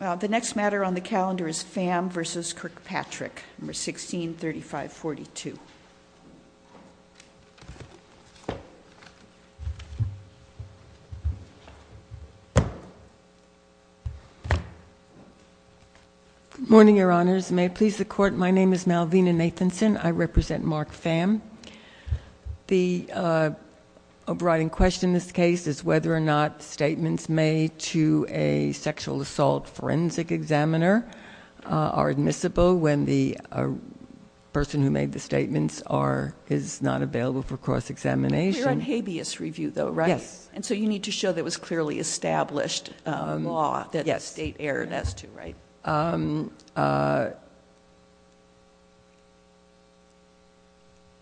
The next matter on the calendar is Pham v. Kirkpatrick, No. 163542. Good morning, Your Honors. May it please the Court, my name is Malvina Nathanson. I represent Mark Pham. The overriding question in this case is whether or not statements made to a sexual assault forensic examiner are admissible when the person who made the statements is not available for cross-examination. You're on habeas review, though, right? Yes. And so you need to show there was clearly established law that the state erred as to, right?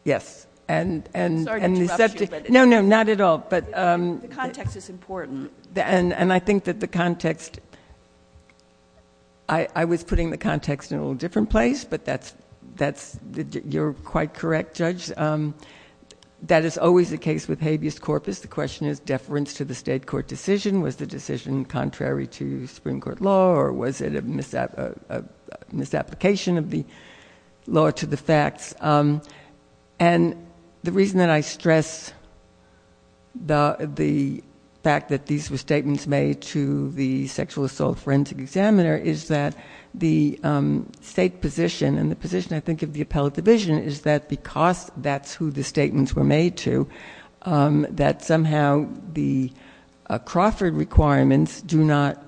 Yes. Sorry to interrupt you. No, no, not at all. The context is important. And I think that the context, I was putting the context in a little different place, but that's, you're quite correct, Judge. That is always the case with habeas corpus. The question is deference to the state court decision. Was the decision contrary to Supreme Court law or was it a misapplication of the law to the facts? And the reason that I stress the fact that these were statements made to the sexual assault forensic examiner is that the state position and the position, I think, of the appellate division is that because that's who the statements were made to, that somehow the Crawford requirements do not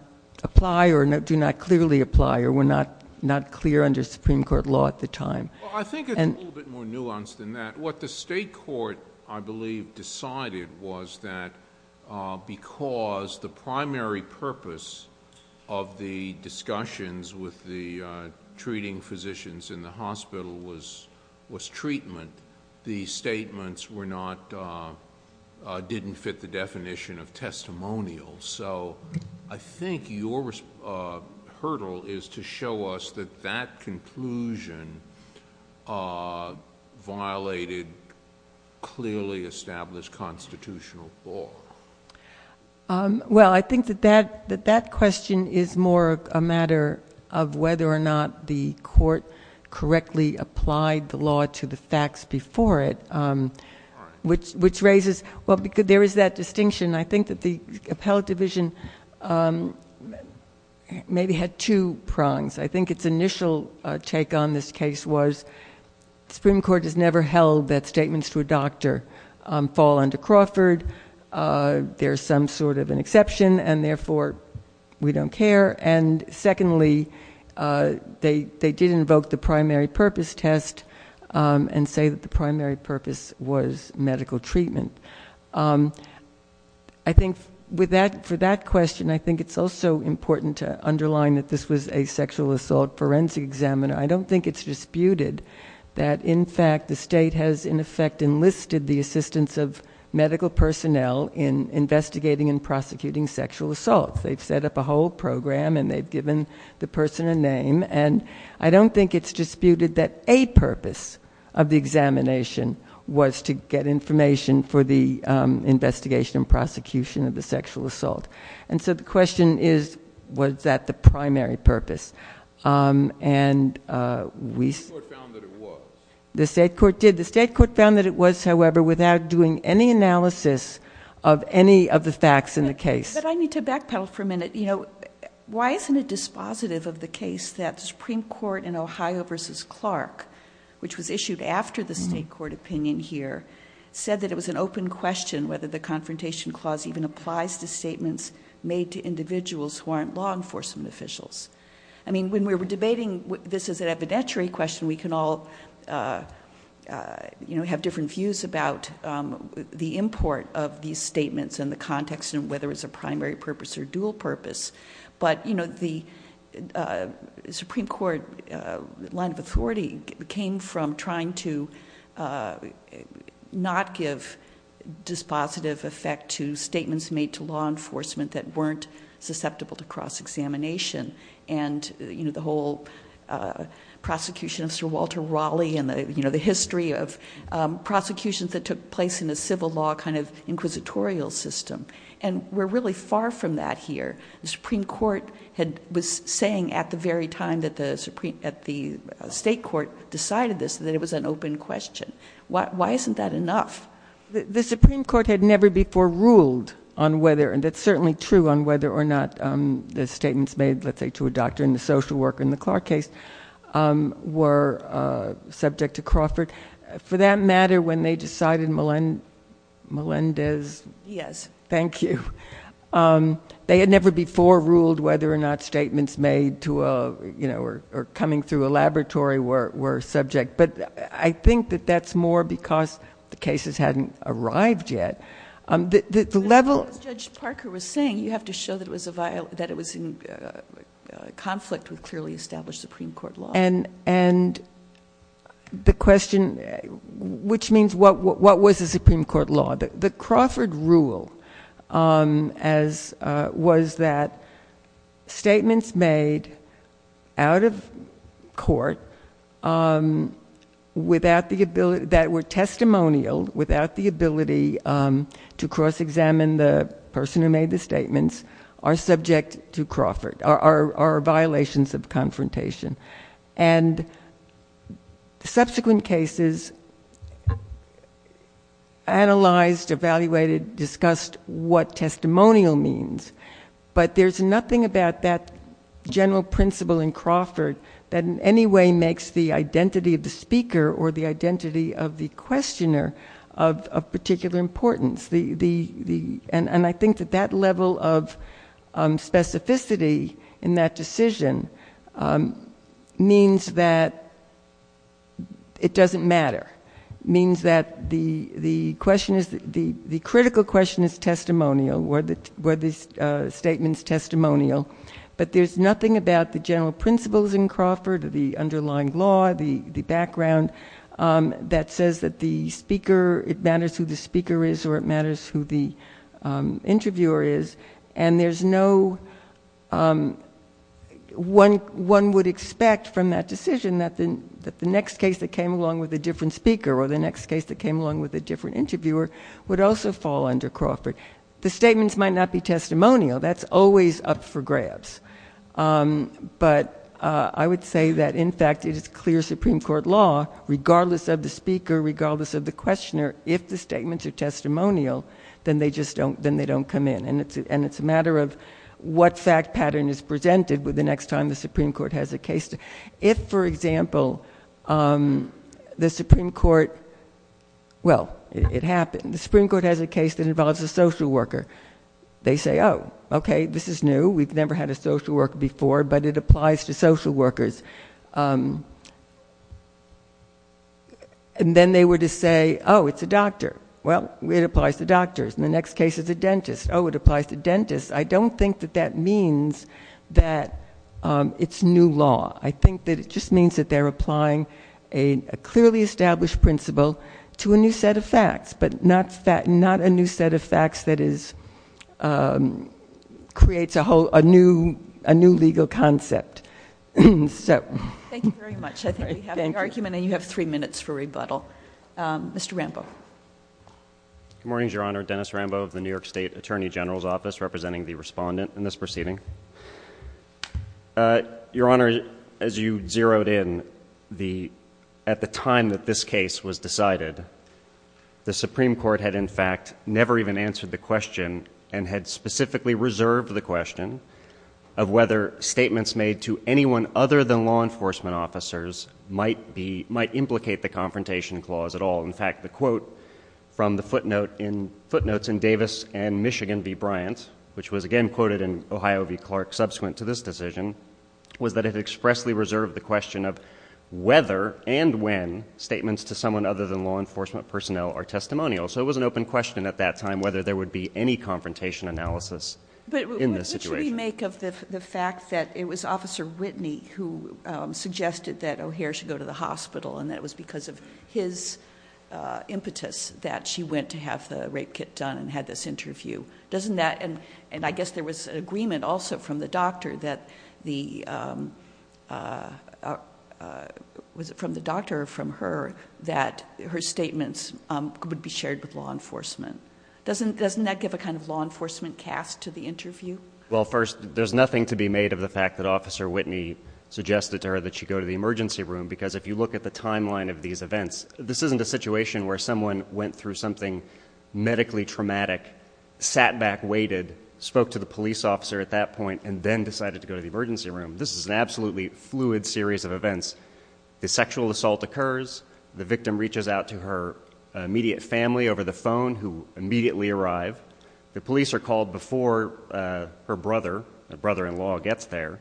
apply or do not clearly apply or were not clear under Supreme Court law at the time. Well, I think it's a little bit more nuanced than that. What the state court, I believe, decided was that because the primary purpose of the discussions with the treating physicians in the hospital was treatment, the statements were not, didn't fit the definition of testimonial. So I think your hurdle is to show us that that conclusion violated clearly established constitutional law. Well, I think that that question is more a matter of whether or not the court correctly applied the law to the facts, which raises, well, there is that distinction. I think that the appellate division maybe had two prongs. I think its initial take on this case was Supreme Court has never held that statements to a doctor fall under Crawford. There's some sort of an exception and therefore we don't care. And secondly, they did invoke the primary purpose test and say that the primary purpose was medical treatment. I think for that question, I think it's also important to underline that this was a sexual assault forensic examiner. I don't think it's disputed that in fact the state has in effect enlisted the assistance of medical personnel in investigating and prosecuting sexual assault. They've set up a whole program and they've given the person a name. And I don't think it's disputed that a purpose of the examination was to get information for the investigation and prosecution of the sexual assault. And so the question is, was that the primary purpose? The state court did. The state court found that it was, however, without doing any analysis of any of the facts in the case. But I need to backpedal for a minute. Why isn't it dispositive of the case that the Supreme Court in Ohio versus Clark, which was issued after the state court opinion here, said that it was an open question whether the confrontation clause even applies to statements made to individuals who aren't law enforcement officials. I mean, when we're debating this as an evidentiary question, we can all have different views about the import of these statements and the context and whether it's a primary purpose or dual purpose. But the Supreme Court line of authority came from trying to not give dispositive effect to statements made to law enforcement that weren't susceptible to cross-examination. And the whole prosecution of Sir Walter Raleigh and the history of prosecutions that took place in a civil law kind of inquisitorial system. And we're really far from that here. The Supreme Court was saying at the very time that the state court decided this that it was an open question. Why isn't that enough? The Supreme Court had never before ruled on whether, and that's certainly true, on whether or not the statements made, let's say to a doctor and a social worker in the Clark case, were subject to Crawford. For that matter, when they decided Melendez- Yes. Thank you. They had never before ruled whether or not statements made to or coming through a laboratory were subject. But I think that that's more because the cases hadn't arrived yet. The level- As Judge Parker was saying, you have to show that it was in conflict with clearly established Supreme Court law. And the question, which means what was the Supreme Court law? The Crawford rule was that statements made out of court that were testimonial, without the ability to cross-examine the person who made the statements, are subject to Crawford, are violations of confrontation. And subsequent cases analyzed, evaluated, discussed what testimonial means. But there's nothing about that general principle in Crawford that in any way makes the identity of the speaker or the identity of the questioner of particular importance. And I think that that level of specificity in that decision means that it doesn't matter. It means that the critical question is testimonial, where the statement is testimonial. But there's nothing about the general principles in Crawford, the underlying law, the background, that says that it matters who the speaker is or it matters who the interviewer is. And there's no- One would expect from that decision that the next case that came along with a different speaker or the next case that came along with a different interviewer would also fall under Crawford. The statements might not be testimonial. That's always up for grabs. But I would say that, in fact, it is clear Supreme Court law, regardless of the speaker, regardless of the questioner, if the statements are testimonial, then they don't come in. And it's a matter of what fact pattern is presented the next time the Supreme Court has a case. If, for example, the Supreme Court- Well, it happened. The Supreme Court has a case that involves a social worker. They say, oh, okay, this is new. We've never had a social worker before, but it applies to social workers. And then they were to say, oh, it's a doctor. Well, it applies to doctors. And the next case is a dentist. Oh, it applies to dentists. I don't think that that means that it's new law. I think that it just means that they're applying a clearly established principle to a new set of facts, but not a new set of facts that creates a new legal concept. Thank you very much. I think we have the argument, and you have three minutes for rebuttal. Mr. Rambo. Good morning, Your Honor. Dennis Rambo of the New York State Attorney General's Office, representing the respondent in this proceeding. Your Honor, as you zeroed in, at the time that this case was decided, the Supreme Court had, in fact, never even answered the question and had specifically reserved the question of whether statements made to anyone other than law enforcement officers might implicate the Confrontation Clause at all. In fact, the quote from the footnotes in Davis and Michigan v. Bryant, which was again quoted in Ohio v. Clark subsequent to this decision, was that it expressly reserved the question of whether and when statements to someone other than law enforcement personnel are testimonial. So it was an open question at that time whether there would be any confrontation analysis in this situation. But what should we make of the fact that it was Officer Whitney who suggested that O'Hare should go to the hospital and that it was because of his impetus that she went to have the rape kit done and had this interview? And I guess there was agreement also from the doctor that her statements would be shared with law enforcement. Doesn't that give a kind of law enforcement cast to the interview? Well, first, there's nothing to be made of the fact that Officer Whitney suggested to her that she go to the emergency room, because if you look at the timeline of these events, this isn't a situation where someone went through something medically traumatic, sat back, waited, spoke to the police officer at that point, and then decided to go to the emergency room. This is an absolutely fluid series of events. The sexual assault occurs. The victim reaches out to her immediate family over the phone who immediately arrive. The police are called before her brother, her brother-in-law, gets there.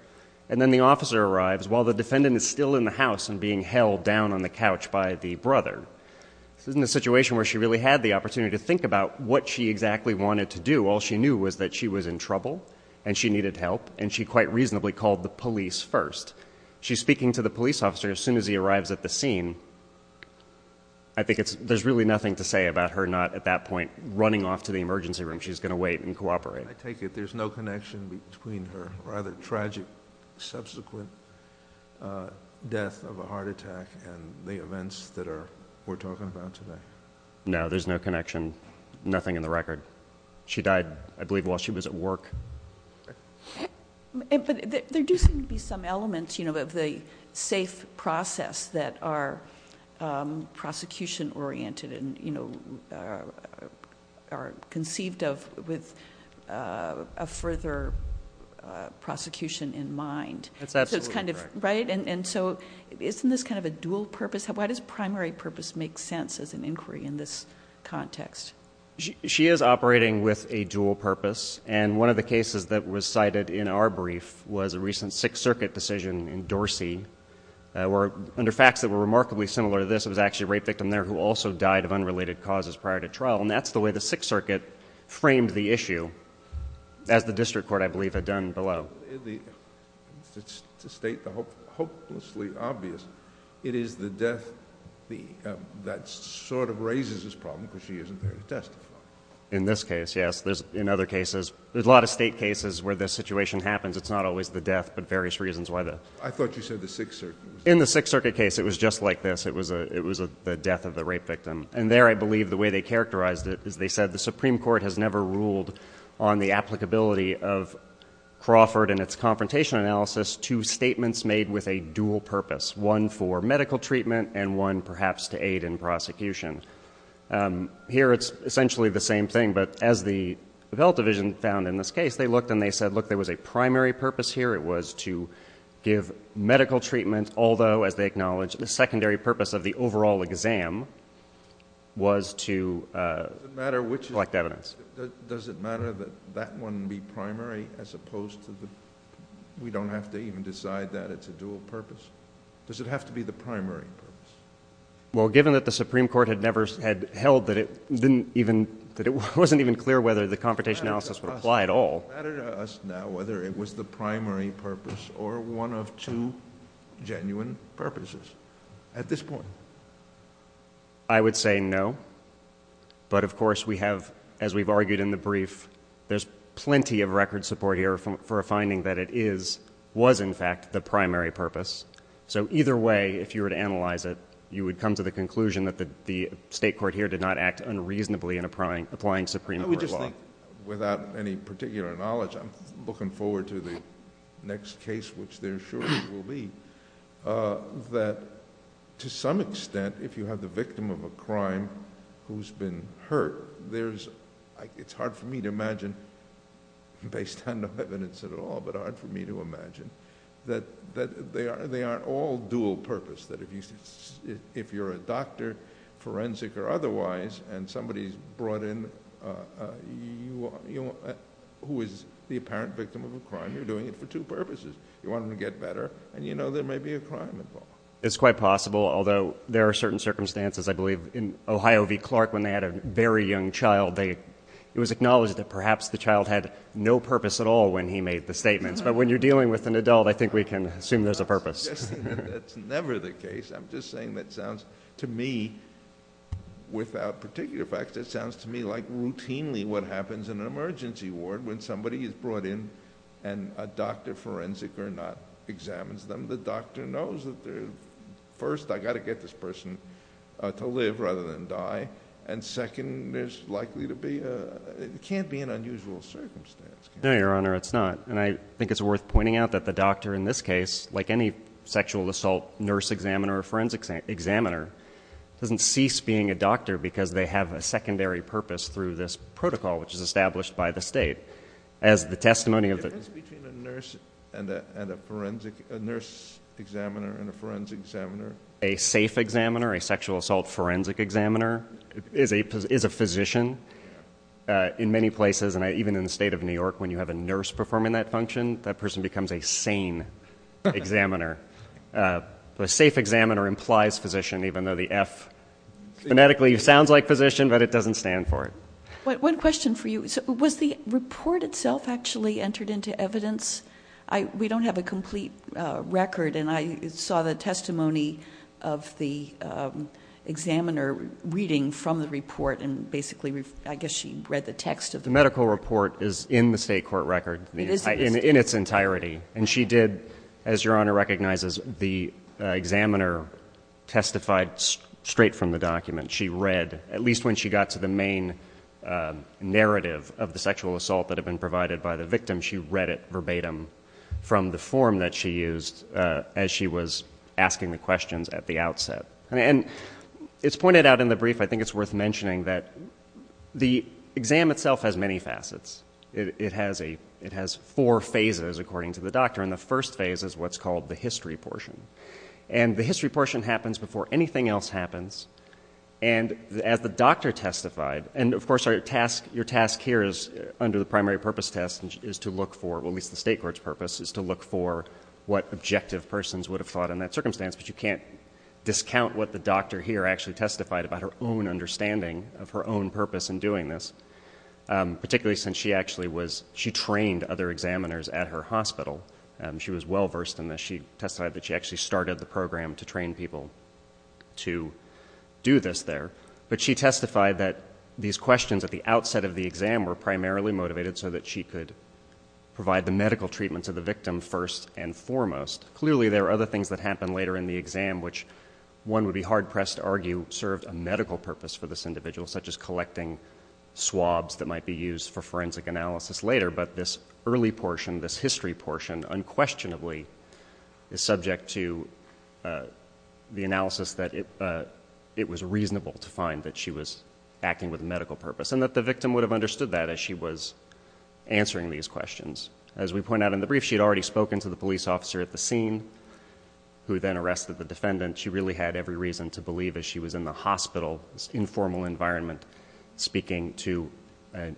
And then the officer arrives while the defendant is still in the house and being held down on the couch by the brother. This isn't a situation where she really had the opportunity to think about what she exactly wanted to do. All she knew was that she was in trouble and she needed help, and she quite reasonably called the police first. She's speaking to the police officer as soon as he arrives at the scene. I think there's really nothing to say about her not at that point running off to the emergency room. She's going to wait and cooperate. I take it there's no connection between her rather tragic subsequent death of a heart attack and the events that we're talking about today. No, there's no connection, nothing in the record. She died, I believe, while she was at work. But there do seem to be some elements, you know, of the safe process that are prosecution-oriented and, you know, are conceived of with a further prosecution in mind. That's absolutely correct. Right? And so isn't this kind of a dual purpose? Why does primary purpose make sense as an inquiry in this context? She is operating with a dual purpose, and one of the cases that was cited in our brief was a recent Sixth Circuit decision in Dorsey where, under facts that were remarkably similar to this, it was actually a rape victim there who also died of unrelated causes prior to trial, and that's the way the Sixth Circuit framed the issue, as the district court, I believe, had done below. To state the hopelessly obvious, it is the death that sort of raises this problem, because she isn't there to testify. In this case, yes. In other cases, there's a lot of state cases where this situation happens. It's not always the death, but various reasons why the death. I thought you said the Sixth Circuit. In the Sixth Circuit case, it was just like this. It was the death of the rape victim. And there, I believe, the way they characterized it is they said, the Supreme Court has never ruled on the applicability of Crawford and its confrontation analysis to statements made with a dual purpose, one for medical treatment and one, perhaps, to aid in prosecution. Here, it's essentially the same thing, but as the Health Division found in this case, they looked and they said, look, there was a primary purpose here. It was to give medical treatment, although, as they acknowledged, the secondary purpose of the overall exam was to collect evidence. Does it matter that that one be primary as opposed to the we don't have to even decide that it's a dual purpose? Does it have to be the primary purpose? Well, given that the Supreme Court had never held that it wasn't even clear whether the confrontation analysis would apply at all. Does it matter to us now whether it was the primary purpose or one of two genuine purposes at this point? I would say no, but of course, we have, as we've argued in the brief, there's plenty of record support here for a finding that it is, was, in fact, the primary purpose. So either way, if you were to analyze it, you would come to the conclusion that the State Court here did not act unreasonably in applying Supreme Court law. I would just think, without any particular knowledge, I'm looking forward to the next case, which there surely will be, that to some extent, if you have the victim of a crime who's been hurt, it's hard for me to imagine, based on no evidence at all, but hard for me to imagine, that they aren't all dual purpose, that if you're a doctor, forensic or otherwise, and somebody's brought in who is the apparent victim of a crime, you're doing it for two purposes. You want them to get better, and you know there may be a crime involved. It's quite possible, although there are certain circumstances, I believe, in Ohio v. Clark, when they had a very young child, it was acknowledged that perhaps the child had no purpose at all when he made the statements. But when you're dealing with an adult, I think we can assume there's a purpose. I'm not suggesting that that's never the case. I'm just saying that sounds, to me, without particular facts, it sounds to me like routinely what happens in an emergency ward when somebody is brought in and a doctor, forensic or not, examines them. The doctor knows that first, I've got to get this person to live rather than die, and second, there's likely to be, it can't be an unusual circumstance. No, Your Honor, it's not. And I think it's worth pointing out that the doctor in this case, like any sexual assault nurse examiner or forensic examiner, doesn't cease being a doctor because they have a secondary purpose through this protocol which is established by the state. As the testimony of the- The difference between a nurse examiner and a forensic examiner? A safe examiner, a sexual assault forensic examiner, is a physician. In many places, and even in the state of New York, when you have a nurse performing that function, that person becomes a sane examiner. A safe examiner implies physician, even though the F phonetically sounds like physician, but it doesn't stand for it. One question for you. Was the report itself actually entered into evidence? We don't have a complete record, and I saw the testimony of the examiner reading from the report, and basically I guess she read the text of the report. The medical report is in the state court record in its entirety. And she did, as Your Honor recognizes, the examiner testified straight from the document. She read, at least when she got to the main narrative of the sexual assault that had been provided by the victim, she read it verbatim from the form that she used as she was asking the questions at the outset. And it's pointed out in the brief, I think it's worth mentioning, that the exam itself has many facets. It has four phases according to the doctor, and the first phase is what's called the history portion. And the history portion happens before anything else happens, and as the doctor testified, and of course your task here under the primary purpose test is to look for, at least the state court's purpose, is to look for what objective persons would have thought in that circumstance, but you can't discount what the doctor here actually testified about her own understanding of her own purpose in doing this, particularly since she trained other examiners at her hospital. She was well-versed in this. She testified that she actually started the program to train people to do this there. But she testified that these questions at the outset of the exam were primarily motivated so that she could provide the medical treatment to the victim first and foremost. Clearly, there are other things that happen later in the exam, which one would be hard-pressed to argue served a medical purpose for this individual, such as collecting swabs that might be used for forensic analysis later. But this early portion, this history portion, unquestionably, is subject to the analysis that it was reasonable to find that she was acting with a medical purpose and that the victim would have understood that as she was answering these questions. As we point out in the brief, she had already spoken to the police officer at the scene who then arrested the defendant. She really had every reason to believe that she was in the hospital, informal environment, speaking to a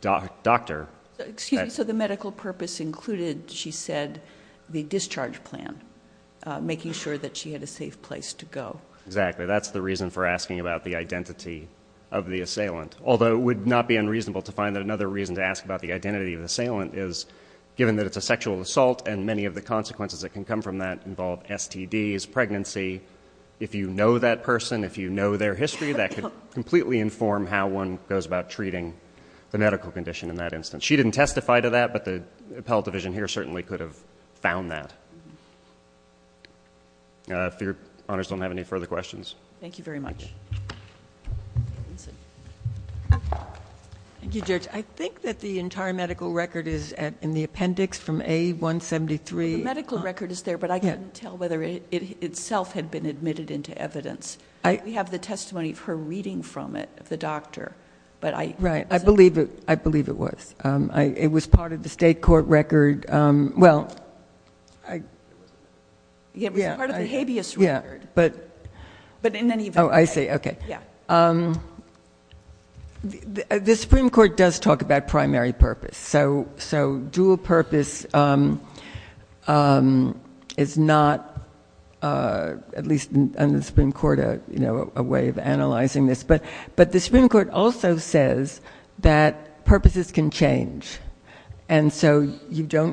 doctor. Excuse me. So the medical purpose included, she said, the discharge plan, making sure that she had a safe place to go. Exactly. That's the reason for asking about the identity of the assailant, although it would not be unreasonable to find that another reason to ask about the identity of the assailant is given that it's a sexual assault and many of the consequences that can come from that involve STDs, pregnancy. If you know that person, if you know their history, that could completely inform how one goes about treating the medical condition in that instance. She didn't testify to that, but the appellate division here certainly could have found that. If your honors don't have any further questions. Thank you very much. Thank you, Judge. I think that the entire medical record is in the appendix from A173. The medical record is there, but I couldn't tell whether it itself had been admitted into evidence. We have the testimony of her reading from it, of the doctor. Right. I believe it was. It was part of the state court record. It was part of the habeas record. Oh, I see. Okay. The Supreme Court does talk about primary purpose. So dual purpose is not, at least under the Supreme Court, a way of analyzing this. But the Supreme Court also says that purposes can change. And so a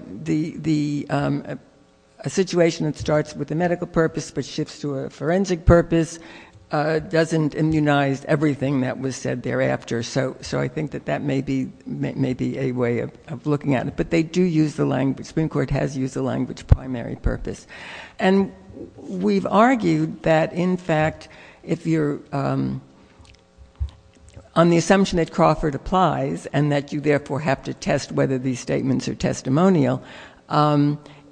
situation that starts with a medical purpose but shifts to a forensic purpose doesn't immunize everything that was said thereafter. So I think that that may be a way of looking at it. But they do use the language. The Supreme Court has used the language primary purpose. And we've argued that, in fact, if you're on the assumption that Crawford applies and that you therefore have to test whether these statements are testimonial,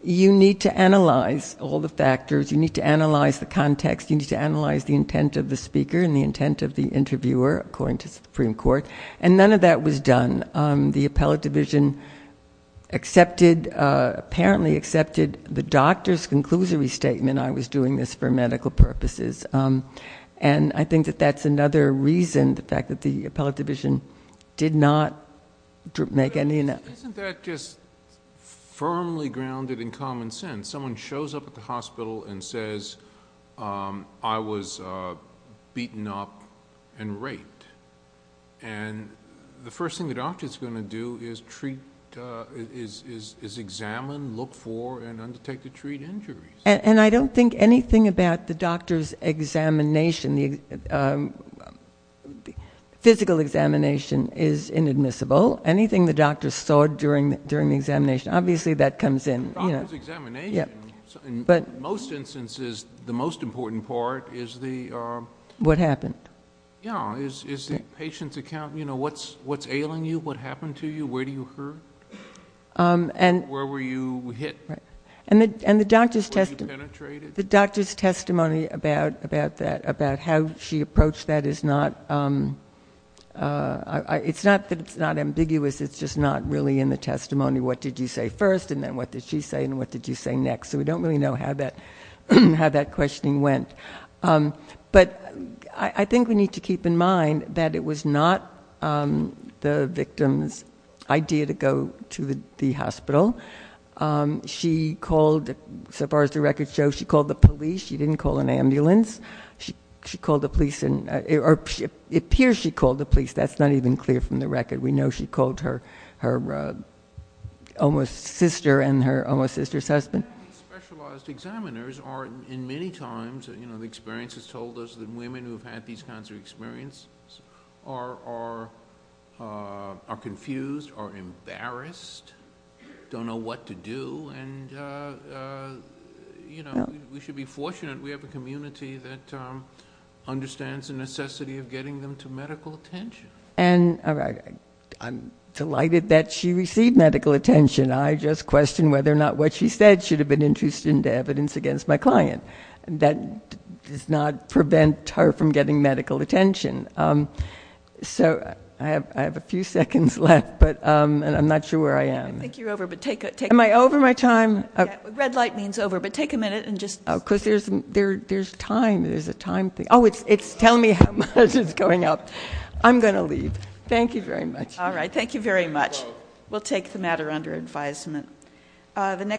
you need to analyze all the factors. You need to analyze the context. You need to analyze the intent of the speaker and the intent of the interviewer, according to the Supreme Court. And none of that was done. The appellate division apparently accepted the doctor's conclusory statement, I was doing this for medical purposes. And I think that that's another reason, the fact that the appellate division did not make any of that. Isn't that just firmly grounded in common sense? And someone shows up at the hospital and says, I was beaten up and raped. And the first thing the doctor is going to do is examine, look for, and undertake to treat injuries. And I don't think anything about the doctor's examination, physical examination, is inadmissible. Anything the doctor saw during the examination, obviously that comes in. But the doctor's examination, in most instances, the most important part is the... What happened. Yeah. Is the patient's account, you know, what's ailing you? What happened to you? Where do you hurt? Where were you hit? And the doctor's testimony about that, about how she approached that, and then what did she say and what did you say next. So we don't really know how that questioning went. But I think we need to keep in mind that it was not the victim's idea to go to the hospital. She called, so far as the records show, she called the police. She didn't call an ambulance. She called the police, or it appears she called the police. That's not even clear from the record. We know she called her sister and her sister's husband. Specialized examiners are, in many times, you know, the experience has told us that women who have had these kinds of experiences are confused, are embarrassed, don't know what to do, and, you know, we should be fortunate we have a community that understands the necessity of getting them to medical attention. And I'm delighted that she received medical attention. I just question whether or not what she said should have been introduced into evidence against my client. That does not prevent her from getting medical attention. So I have a few seconds left, but I'm not sure where I am. I think you're over, but take a minute. Am I over my time? Red light means over, but take a minute and just. Oh, because there's time. There's a time thing. Oh, it's telling me how much is going up. I'm going to leave. Thank you very much. All right. Thank you very much. We'll take the matter under advisement.